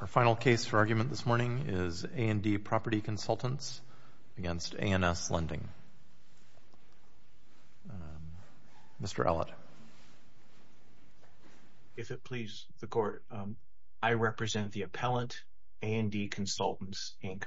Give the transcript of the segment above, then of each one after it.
Our final case for argument this morning is A&D Property Consultants against A&S Lending. Mr. Allitt. If it please the Court, I represent the appellant, A&D Consultants, Inc.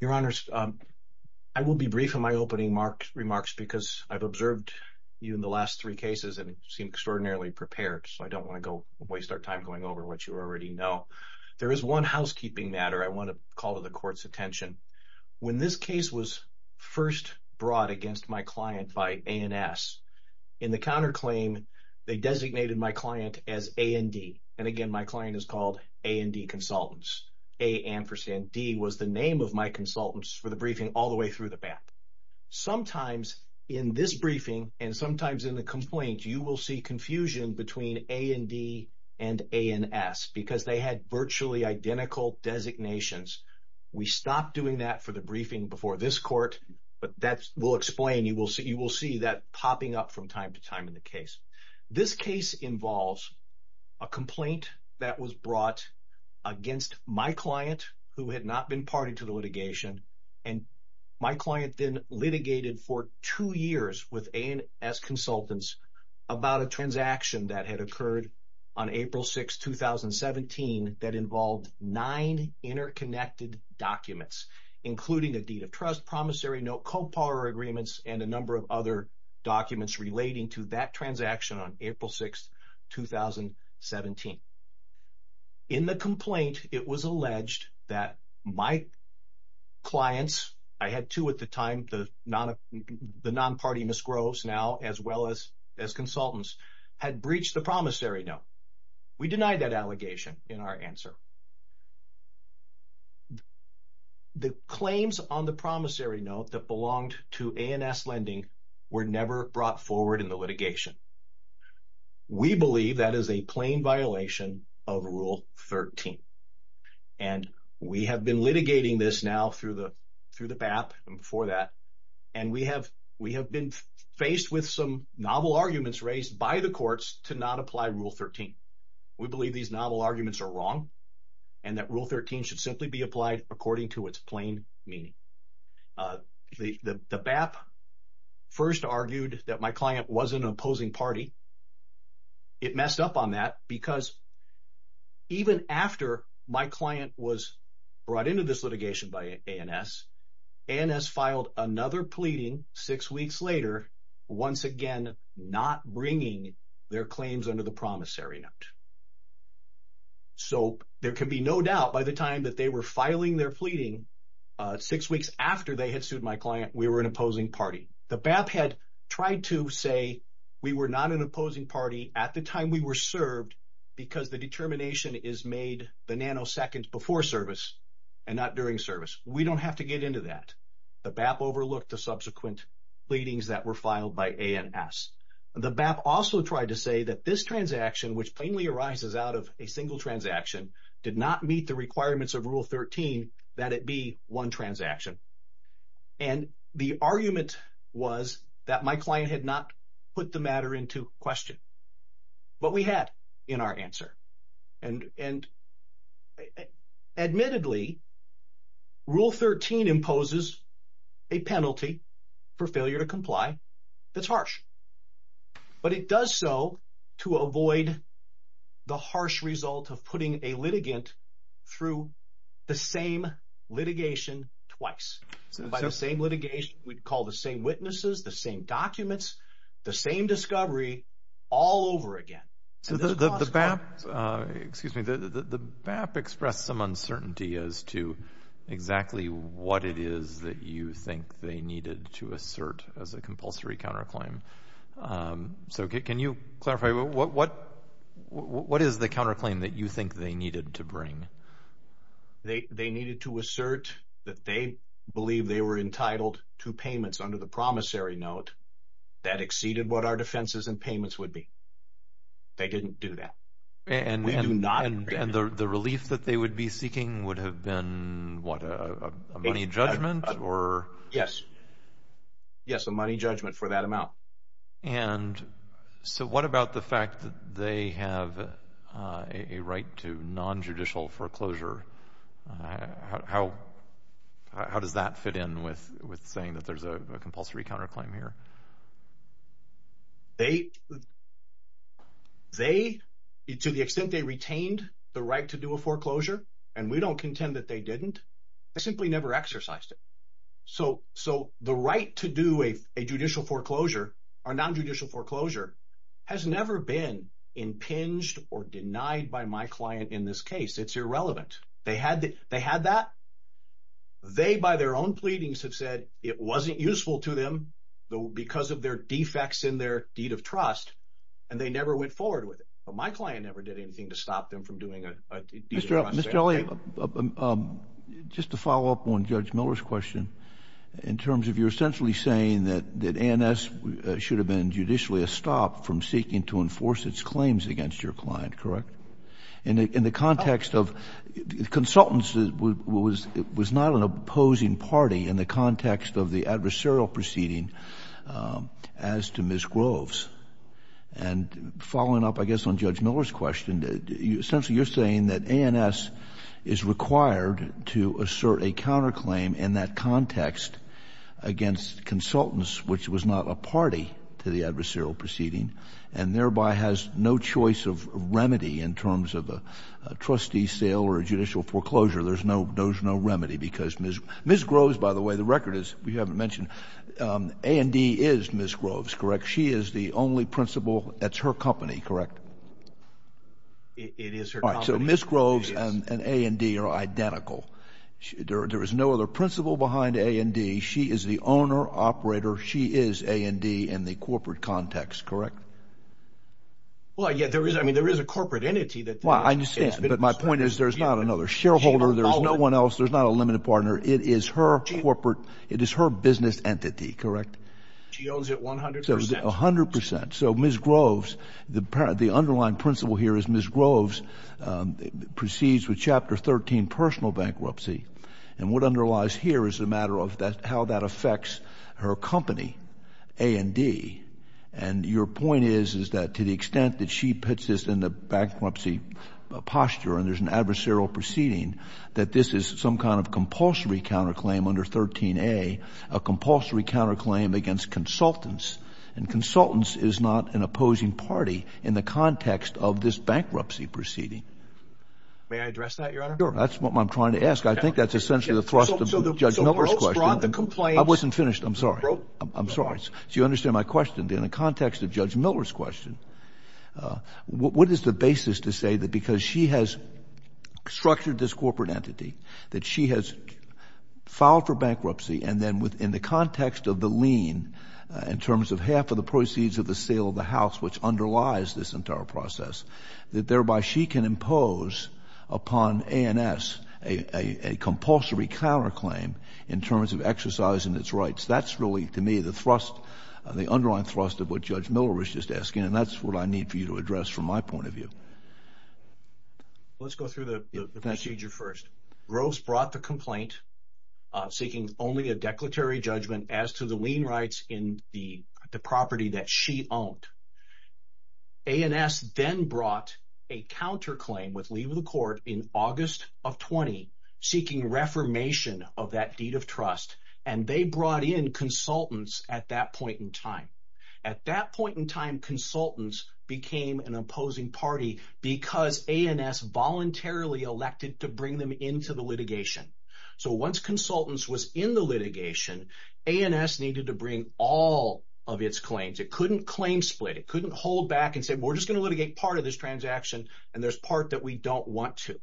Your Honors, I will be brief in my opening remarks because I've observed you in the last three cases and seem extraordinarily prepared, so I don't want to go waste our time going over what you already know. There is one housekeeping matter I want to call to the Court's attention. When this case was first brought against my client by A&S, in the counterclaim they designated my client as A&D, and again my client is called A&D Consultants. A ampersand D was the name of my consultants for the briefing all the way through the back. Sometimes in this briefing and sometimes in the complaint you will see confusion between A&D and A&S because they had virtually identical designations. We stopped doing that for the briefing before this Court, but that will explain. You will see that popping up from time to time in the case. This case involves a complaint that was brought against my client who had not been party to the litigation, and my client then litigated for two years with A&S Consultants about a transaction that had occurred on April 6, 2017, that involved nine interconnected documents, including a deed of trust, promissory note, co-par agreements, and a number of other documents relating to that transaction on April 6, 2017. In the complaint it was alleged that my clients, I had two at the time, the non-party Ms. Groves now, as well as consultants, had breached the promissory note. We denied that allegation in our answer. The claims on the promissory note that belonged to A&S Lending were never brought forward in the litigation. We believe that is a plain violation of Rule 13, and we have been litigating this now through the BAP and before that, and we have been faced with some novel arguments raised by the courts to not apply Rule 13. We believe these novel arguments are wrong and that Rule 13 should simply be an opposing party. It messed up on that because even after my client was brought into this litigation by A&S, A&S filed another pleading six weeks later, once again not bringing their claims under the promissory note. So there can be no doubt by the time that they were filing their pleading, six weeks after they had to say we were not an opposing party at the time we were served because the determination is made the nanosecond before service and not during service. We don't have to get into that. The BAP overlooked the subsequent pleadings that were filed by A&S. The BAP also tried to say that this transaction, which plainly arises out of a single transaction, did not meet the requirements of Rule 13 that it be one transaction. And the argument was that my client had not put the matter into question, but we had in our answer. And admittedly, Rule 13 imposes a penalty for failure to comply that's harsh, but it does so to avoid the litigation twice. By the same litigation, we'd call the same witnesses, the same documents, the same discovery, all over again. So the BAP, excuse me, the BAP expressed some uncertainty as to exactly what it is that you think they needed to assert as a compulsory counterclaim. So can you clarify what is the to assert that they believe they were entitled to payments under the promissory note that exceeded what our defenses and payments would be? They didn't do that. And the relief that they would be seeking would have been, what, a money judgment? Yes. Yes, a money judgment for that amount. And so how does that fit in with saying that there's a compulsory counterclaim here? They, to the extent they retained the right to do a foreclosure, and we don't contend that they didn't, they simply never exercised it. So the right to do a judicial foreclosure or non-judicial foreclosure has never been impinged or They, by their own pleadings, have said it wasn't useful to them, though, because of their defects in their deed of trust, and they never went forward with it. But my client never did anything to stop them from doing a deed of trust. Mr. Elliott, just to follow up on Judge Miller's question, in terms of you're essentially saying that that ANS should have been judicially a stop from seeking to enforce its claims against your client, correct? In the context of consultants, it was not an opposing party in the context of the adversarial proceeding as to Ms. Groves. And following up, I guess, on Judge Miller's question, essentially you're saying that ANS is required to assert a counterclaim in that context against consultants, which was not a party to the adversarial proceeding, and thereby has no choice of remedy in terms of a trustee sale or a judicial foreclosure. There's no remedy, because Ms. Groves, by the way, the record is we haven't mentioned, A&D is Ms. Groves, correct? She is the only principal. That's her company, correct? It is her company. So Ms. Groves and A&D are identical. There is no other principal behind A&D. She is the owner, operator. She is A&D in the corporate context, correct? Well, yeah, there is, I mean, there is a corporate entity that... Well, I understand, but my point is there's not another shareholder, there's no one else, there's not a limited partner. It is her corporate, it is her business entity, correct? She owns it 100%. 100%. So Ms. Groves, the underlying principal here is Ms. Groves proceeds with Chapter 13 personal bankruptcy, and what underlies here is the matter of that how that affects her company, A&D, and your point is, is that to the extent that she puts this in the bankruptcy posture, and there's an adversarial proceeding, that this is some kind of compulsory counterclaim under 13a, a compulsory counterclaim against consultants, and consultants is not an opposing party in the context of this bankruptcy proceeding. May I address that, Your Honor? Sure, that's what I'm trying to ask. I think that's essentially the thrust of Judge Miller's question. So Ms. Groves brought the complaints... I wasn't understanding my question. In the context of Judge Miller's question, what is the basis to say that because she has structured this corporate entity, that she has filed for bankruptcy, and then within the context of the lien, in terms of half of the proceeds of the sale of the house which underlies this entire process, that thereby she can impose upon ANS a compulsory counterclaim in that's really, to me, the thrust, the underlying thrust of what Judge Miller was just asking, and that's what I need for you to address from my point of view. Let's go through the procedure first. Groves brought the complaint seeking only a declaratory judgment as to the lien rights in the property that she owned. ANS then brought a counterclaim with leave of the court in August of 20, seeking reformation of that deed of consultants at that point in time. At that point in time, consultants became an opposing party because ANS voluntarily elected to bring them into the litigation. So once consultants was in the litigation, ANS needed to bring all of its claims. It couldn't claim split. It couldn't hold back and say, we're just going to litigate part of this transaction, and there's part that we don't want to.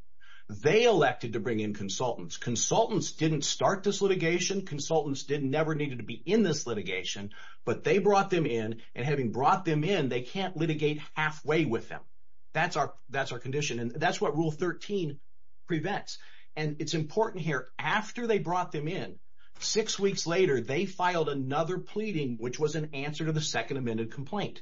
They elected to bring in consultants. Consultants didn't start this litigation. Consultants never needed to be in this litigation, but they brought them in, and having brought them in, they can't litigate halfway with them. That's our condition, and that's what Rule 13 prevents. And it's important here, after they brought them in, six weeks later, they filed another pleading, which was an answer to the second amended complaint.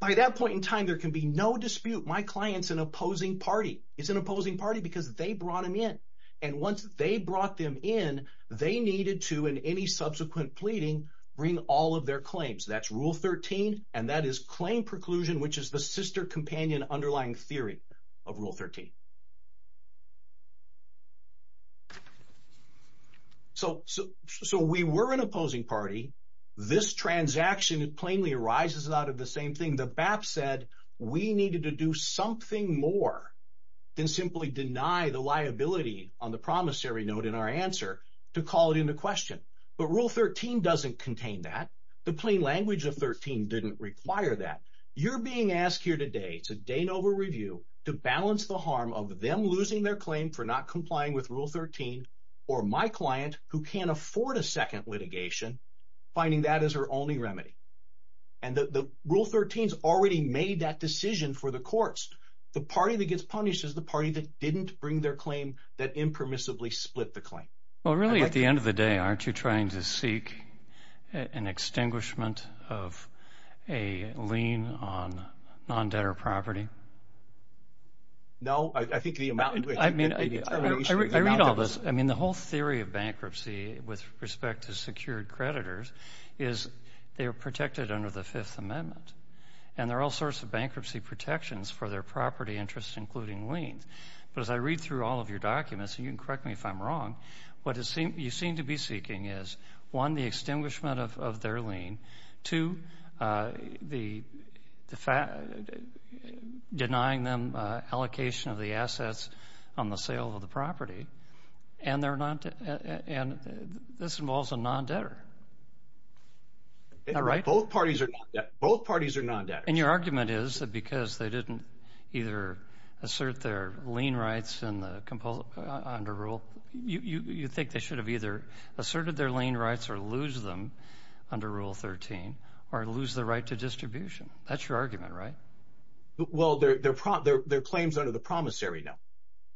By that point in time, there can be no dispute. My client's an opposing party. He's an opposing party because they brought him in, and once they brought them in, they needed to, in any subsequent pleading, bring all of their claims. That's Rule 13, and that is claim preclusion, which is the sister-companion underlying theory of Rule 13. So we were an opposing party. This transaction plainly arises out of the same thing. The BAP said we needed to do something more than simply deny the liability on the promissory note in our answer to call it into question. But Rule 13 doesn't contain that. The plain language of 13 didn't require that. You're being asked here today, it's a Danover review, to balance the harm of them losing their claim for not complying with Rule 13, or my client, who can't afford a second litigation, finding that is her only remedy. And the Rule 13's already made that decision for the courts. The party that gets punished is the party that didn't bring their claim, that impermissibly split the claim. Well, really, at the end of the day, aren't you trying to seek an extinguishment of a lien on non-debtor property? No, I think the amount... I mean, I read all this. I mean, the whole theory of bankruptcy, with respect to secured creditors, is they are protected under the Fifth Amendment, and there are all sorts of bankruptcy protections for their property interests, including liens. But as I read through all of your documents, and you can correct me if I'm wrong, what you seem to be seeking is, one, the extinguishment of their lien, two, denying them allocation of the assets on the sale of the property, and this involves a non-debtor. Both parties are non-debtors. And your argument is that because they didn't either assert their lien rights under Rule 13, you think they should have either asserted their lien rights or lose them under Rule 13, or lose the right to distribution. That's your argument, right? Well, they're claims under the promissory note.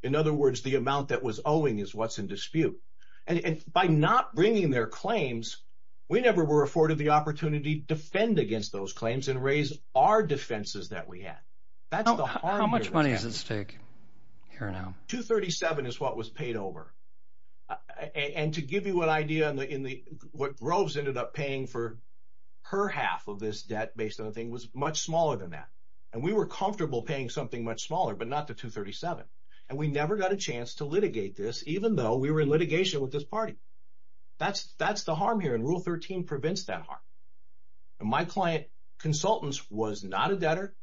In other words, the amount that was owing is what's in dispute. And by not bringing their claims, we never were afforded the opportunity to defend against those claims and raise our defenses that we had. How much money does this take here now? $237,000 is what was paid over. And to give you an idea, what Groves ended up paying for her half of this debt based on the thing was much smaller than that. And we were comfortable paying something much smaller, but not the $237,000. And we never got a chance to litigate this, even though we were in litigation with this firm here, and Rule 13 prevents that harm. And my client, Consultants, was not a debtor.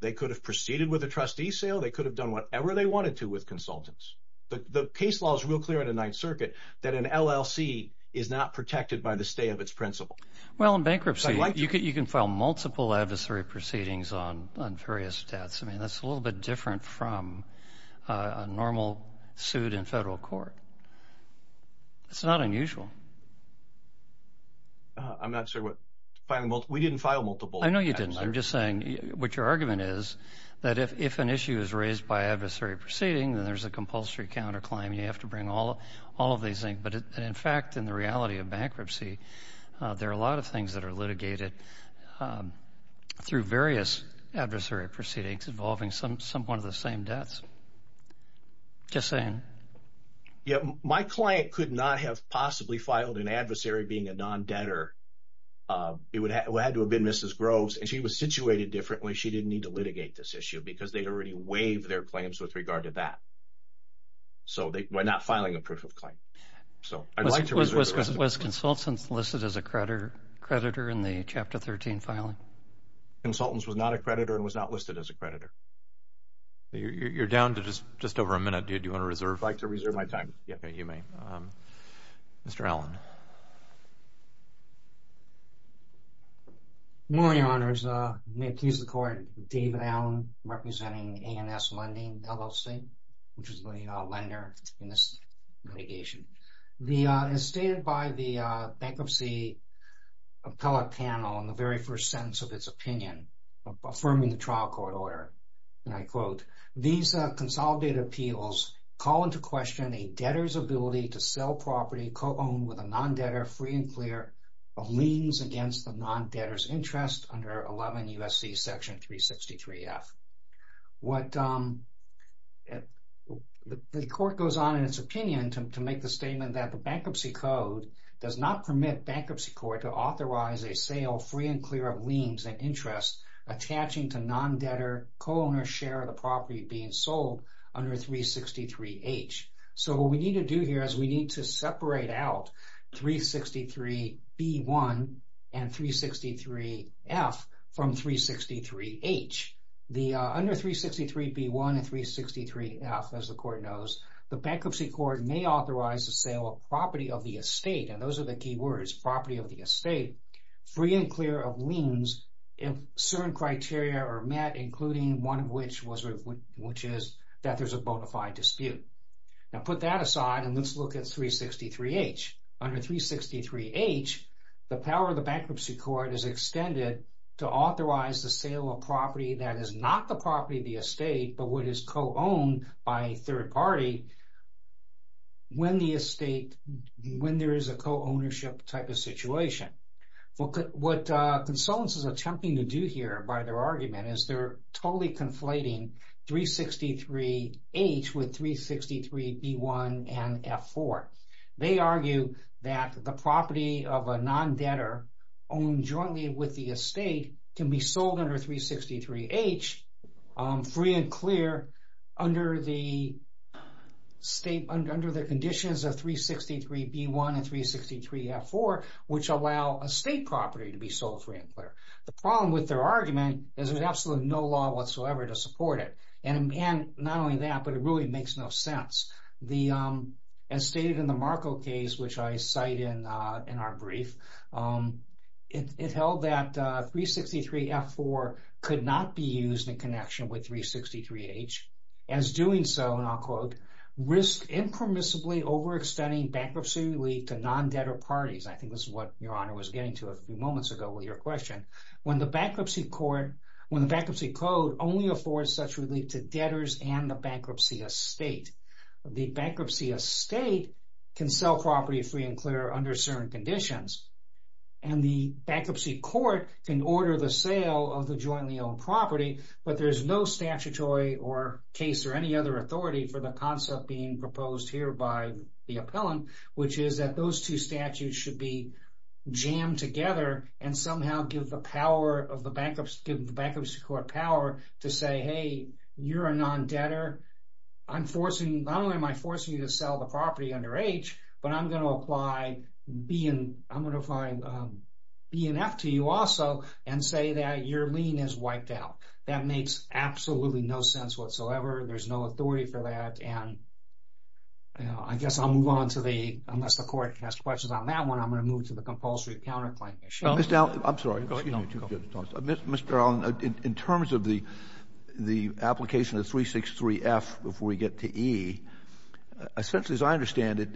They could have proceeded with a trustee sale. They could have done whatever they wanted to with Consultants. The case law is real clear in the Ninth Circuit that an LLC is not protected by the stay of its principal. Well, in bankruptcy, you can file multiple adversary proceedings on various debts. I mean, that's a little bit different from a normal suit in federal court. It's not unusual. I'm not sure what... we didn't file multiple. I know you didn't. I'm just saying what your argument is, that if an issue is raised by adversary proceeding, then there's a compulsory counterclaim. You have to bring all of these things. But in fact, in the reality of bankruptcy, there are a lot of things that are litigated through various adversary proceedings involving some one of the same debts. Just saying. Yeah, my client could not have possibly filed an adversary being a non-debtor. It would have had to have been Mrs. Groves, and she was situated differently. She didn't need to litigate this issue because they'd already waived their claims with regard to that. So they were not filing a proof of claim. So I'd like to... Was Consultants listed as a creditor in the Chapter 13 filing? Consultants was not a creditor and was not listed as a creditor. You're down to just over a minute. Do you want to reserve? I'd like to reserve my time. Okay, you may. Mr. Allen. Morning, Your Honors. May it please the Court. David Allen, representing ANS Lending, LLC, which is the lender in this litigation. As stated by the Bankruptcy Appellate Panel in the very first sentence of its opinion, affirming the trial court order, and I quote, these consolidated appeals call into question a debtor's ability to sell property co-owned with a non-debtor free and clear of liens against the non-debtor's interest under 11 U.S.C. Section 363F. What the Court goes on in its opinion to make the statement that the Bankruptcy Code does not permit Bankruptcy Court to authorize a sale free and clear of liens and interest attaching to non-debtor co-owner share of the property being sold under 363H. So, what we need to do here is we need to separate out 363B1 and 363F from 363H. Under 363B1 and 363F, as the Court knows, the Bankruptcy Court may authorize the sale of property of the estate, and those are the key words, property of the estate, free and clear of liens if certain criteria are met including one of which is that there's a bona fide dispute. Now, put that aside and let's look at 363H. Under 363H, the power of the Bankruptcy Court is extended to authorize the sale of property that is not the property of the estate but what is co-owned by a third party when the estate, when there is a co-ownership type of situation. What consultants are attempting to do here by their argument is they're totally conflating 363H with 363B1 and F4. They argue that the property of a non-debtor owned jointly with the estate can be sold under 363H free and clear under the conditions of 363F4 which allow estate property to be sold free and clear. The problem with their argument is there's absolutely no law whatsoever to support it and not only that but it really makes no sense. As stated in the Marco case which I cite in our brief, it held that 363F4 could not be used in connection with 363H. As doing so, and I'll quote, risk impermissibly overextending bankruptcy relief to non-debtor parties. I think this is what your honor was getting to a few moments ago with your question. When the Bankruptcy Court, when the Bankruptcy Code only affords such relief to debtors and the bankruptcy estate. The bankruptcy estate can sell property free and clear under certain conditions and the Bankruptcy Court can order the sale of the jointly owned property but there's no statutory or case or any other authority for the concept being proposed here by the appellant which is that those two statutes should be jammed together and somehow give the power of the Bankruptcy Court power to say hey you're a non-debtor. I'm forcing, not only am I forcing you to sell the property under H but I'm going to apply BNF to you also and say that your lien is wiped out. That makes absolutely no sense whatsoever. There's no authority for that and I guess I'll move on to the, unless the court has questions on that one, I'm going to move to the compulsory counterclaim issue. Mr. Allen, in terms of the the application of 363 F before we get to E, essentially as I understand it,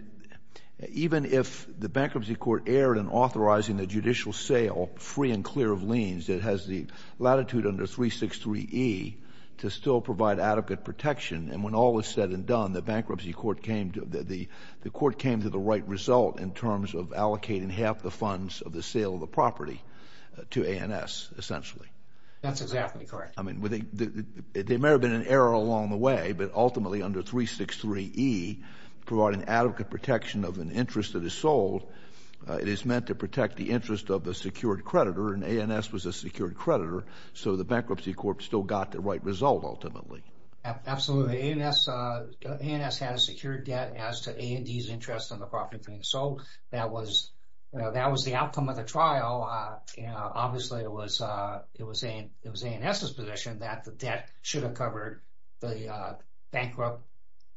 even if the Bankruptcy Court erred in authorizing the judicial sale free and clear of liens that has the latitude under 363 E to still provide adequate protection and when all is said and done the Bankruptcy Court came to the right result in terms of allocating half the funds of the sale of the property to ANS essentially. That's exactly correct. I mean they may have been an error along the way but ultimately under 363 E, providing adequate protection of an interest that is sold, it is meant to protect the interest of the secured creditor so the Bankruptcy Court still got the right result ultimately. Absolutely. ANS had a secured debt as to A&D's interest in the property being sold. That was the outcome of the trial. Obviously it was ANS's position that the debt should have covered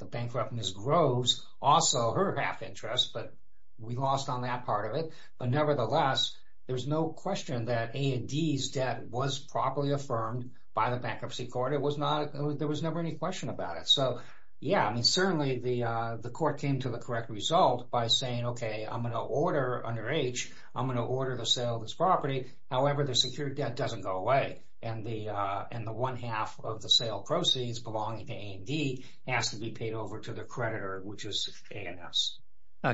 the bankrupt Ms. Groves, also her half interest, but we lost on that part of it. Nevertheless, there's no question that A&D's debt was properly affirmed by the Bankruptcy Court. There was never any question about it. So yeah, I mean certainly the court came to the correct result by saying okay I'm going to order under H, I'm going to order the sale of this property. However, the secured debt doesn't go away and the one half of the sale proceeds belonging to A&D has to be paid over to the creditor which is ANS.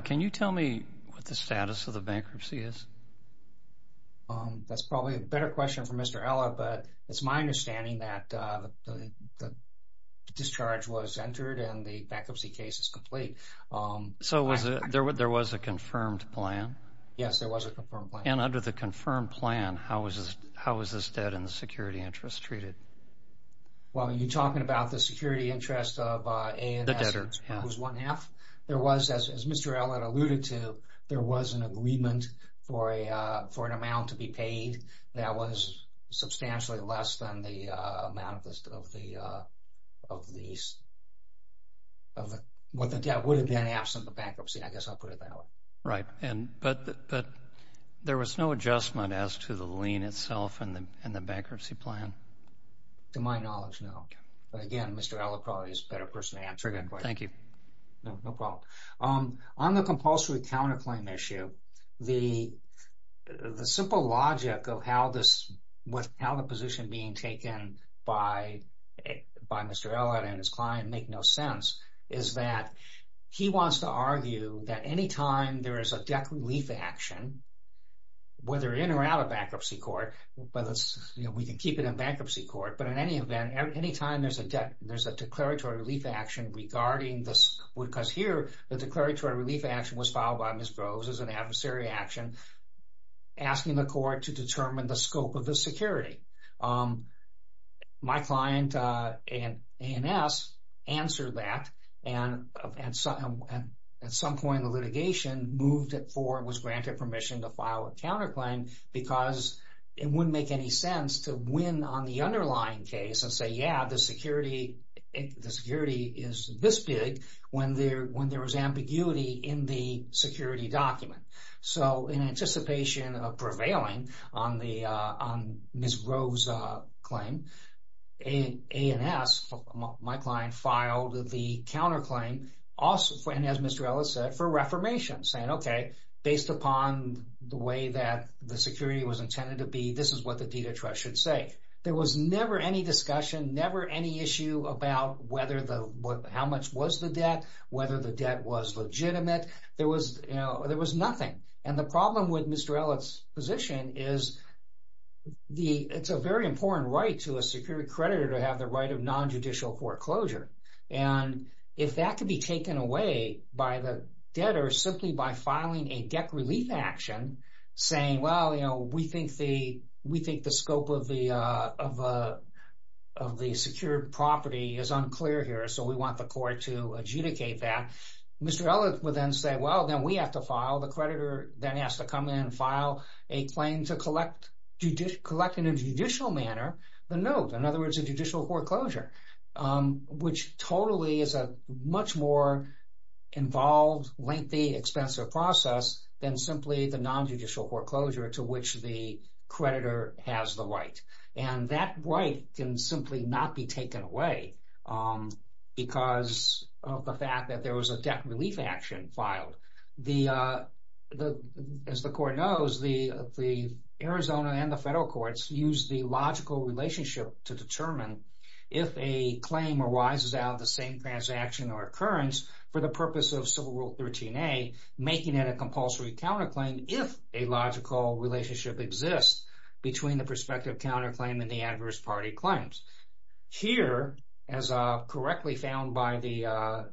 Can you tell me what the status of the bankruptcy is? That's probably a better question for Mr. Ella, but it's my understanding that the discharge was entered and the bankruptcy case is complete. So there was a confirmed plan? Yes, there was a confirmed plan. And under the confirmed plan, how was this debt and the security interest treated? Well, you're talking about the security but alluded to there was an agreement for an amount to be paid that was substantially less than the amount of the debt would have been absent of the bankruptcy. I guess I'll put it that way. Right, but there was no adjustment as to the lien itself and the bankruptcy plan? To my knowledge, no. But again, Mr. Ella probably is a better person to answer that question. Thank you. No compulsory counterclaim issue, the simple logic of how the position being taken by Mr. Ella and his client make no sense is that he wants to argue that any time there is a debt relief action, whether in or out of bankruptcy court, but we can keep it in bankruptcy court, but in any event, any time there's a debt, there's a declaratory relief action regarding this because here the declaratory relief action was filed by Ms. Groves as an adversary action asking the court to determine the scope of the security. My client and ANS answered that and at some point in the litigation moved it forward and was granted permission to file a counterclaim because it wouldn't make any sense to win on the underlying case and say, yeah, the security is this big when there was ambiguity in the security document. So in anticipation of prevailing on Ms. Groves' claim, ANS, my client, filed the counterclaim also, and as Mr. Ella said, for reformation saying, okay, based upon the way that the security was intended to be, this is what the deed of trust should say. There was never any discussion, never any issue about whether how much was the debt, whether the debt was legitimate. There was nothing, and the problem with Mr. Ella's position is it's a very important right to a security creditor to have the right of non-judicial foreclosure, and if that could be taken away by the debtor simply by filing a debt relief action saying, well, you know, we think the scope of the secured property is unclear here, so we want the court to adjudicate that, Mr. Ella would then say, well, then we have to file. The creditor then has to come in and file a claim to collect in a judicial manner the note, in other words, a judicial foreclosure, which totally is a much more involved, lengthy, expensive process than simply the non-judicial foreclosure to which the creditor has the right, and that right can simply not be taken away because of the fact that there was a debt relief action filed. As the court knows, the Arizona and the federal courts use the logical relationship to determine if a claim arises out of the same transaction or occurrence for the purpose of Civil Rule 13a, making it a compulsory counterclaim if a logical relationship exists between the prospective counterclaim and the adverse party claims. Here, as correctly found by the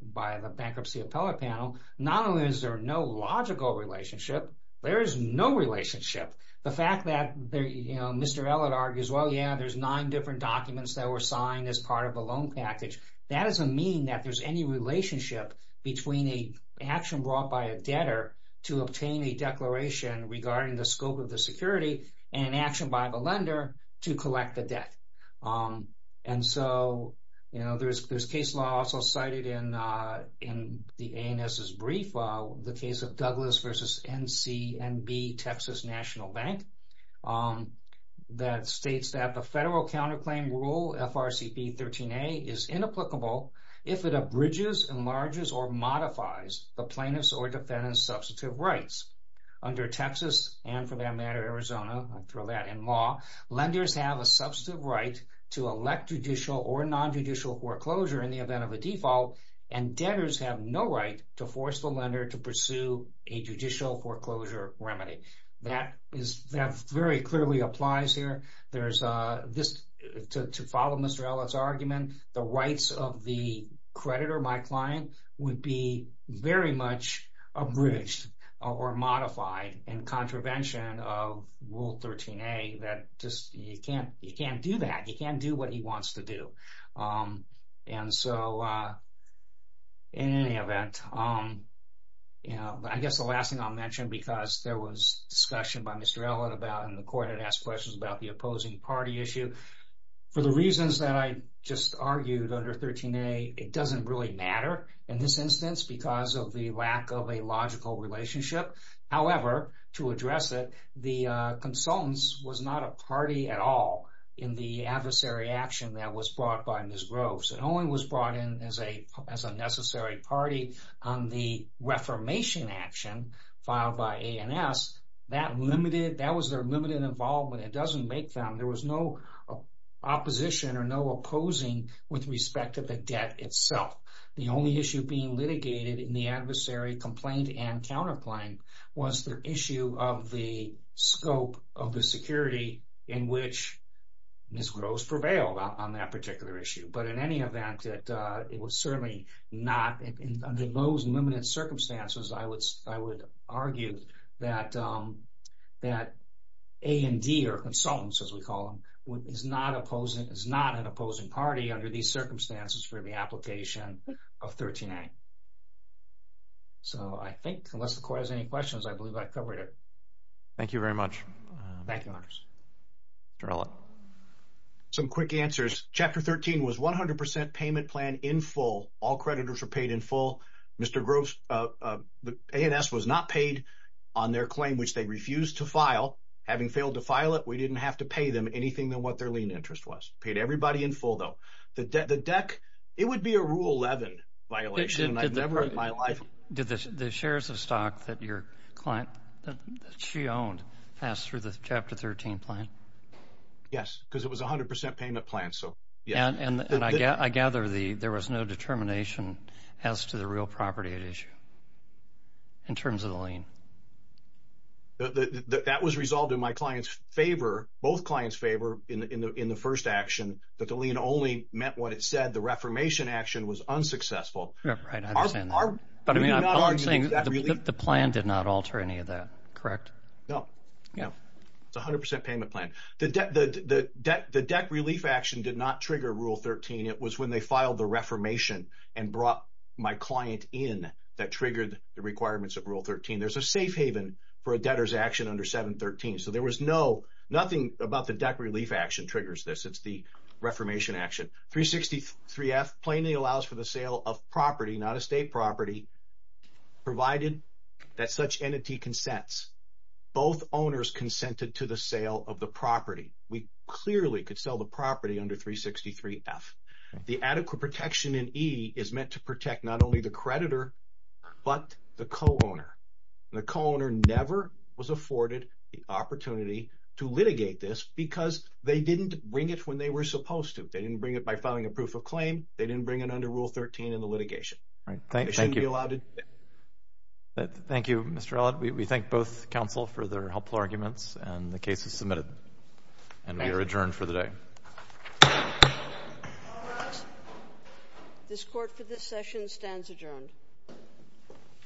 bankruptcy appellate panel, not only is there no logical relationship, there is no relationship. The fact that, you know, Mr. Ella argues, well, yeah, there's nine different documents that were signed as part of a loan package, that doesn't mean that there's any relationship between an action brought by a debtor to obtain a declaration regarding the scope of the security, and an action by the lender to collect the debt. And so, you know, there's case law also cited in the ANS's brief, the case of Douglas versus NCNB, Texas National Bank, that states that the federal counterclaim rule FRCP 13a is inapplicable if it abridges, enlarges, or modifies the plaintiff's or defendant's substantive rights. Under Texas, and for that matter Arizona, I'll throw that in law, lenders have a substantive right to elect judicial or non-judicial foreclosure in the event of a default, and debtors have no right to force the lender to pursue a judicial foreclosure remedy. That is, that very clearly applies here. There's this, to follow Mr. Ella's argument, the rights of the creditor, my abridged or modified in contravention of Rule 13a, that just, you can't, you can't do that. You can't do what he wants to do. And so, in any event, you know, I guess the last thing I'll mention, because there was discussion by Mr. Ella about, and the court had asked questions about, the opposing party issue. For the reasons that I just argued under 13a, it doesn't really matter in this instance, because of the lack of a logical relationship. However, to address it, the consultants was not a party at all in the adversary action that was brought by Ms. Groves. It only was brought in as a, as a necessary party on the reformation action filed by ANS. That limited, that was their limited involvement. It doesn't make them, there was no opposition or no opposing with respect to the debt itself. The only issue being litigated in the adversary complaint and counterclaim was the issue of the scope of the security in which Ms. Groves prevailed on that particular issue. But in any event, it was certainly not, under those limited circumstances, I would, I would argue that, that A&D, or consultants as we call them, is not opposing, is not an opposing party under these circumstances for the application of 13a. So, I think, unless the court has any questions, I believe I covered it. Thank you very much. Thank you, Your Honors. Jarella. Some quick answers. Chapter 13 was 100% payment plan in full. All creditors were paid in full. Mr. Groves, ANS was not paid on their claim, which they refused to file. Having failed to file it, we didn't have to pay them anything than what their lien interest was. Paid everybody in full, though. The deck, it would be a Rule 11 violation, and I've never in my life... Did the shares of stock that your client, that she owned, pass through the Chapter 13 plan? Yes, because it was a 100% payment plan, so, yes. And I gather there was no determination as to the real property at issue, in terms of the lien. That was resolved in my client's favor, both clients' favor, in the first action, that the lien only meant what it said. The reformation action was unsuccessful. But I'm saying, the plan did not alter any of that, correct? No. It's a 100% payment plan. The deck relief action did not trigger Rule 13. It was when they filed the reformation, and brought my client in, that triggered the requirements of Rule 13. There's a safe haven for a debtor's action under 713. So, nothing about the deck relief action triggers this. It's the reformation action. 363F plainly allows for the sale of property, not estate property, provided that such entity consents. Both owners consented to the sale of the property. We clearly could sell the property under 363F. The adequate protection in E is meant to protect not only the creditor, but the co-owner. The co-owner never was given the opportunity to litigate this, because they didn't bring it when they were supposed to. They didn't bring it by filing a proof of claim. They didn't bring it under Rule 13 in the litigation. Right. Thank you. They shouldn't be allowed to do that. Thank you, Mr. Allott. We thank both counsel for their helpful arguments, and the case is submitted. And we are adjourned for the day. This court for this session stands adjourned.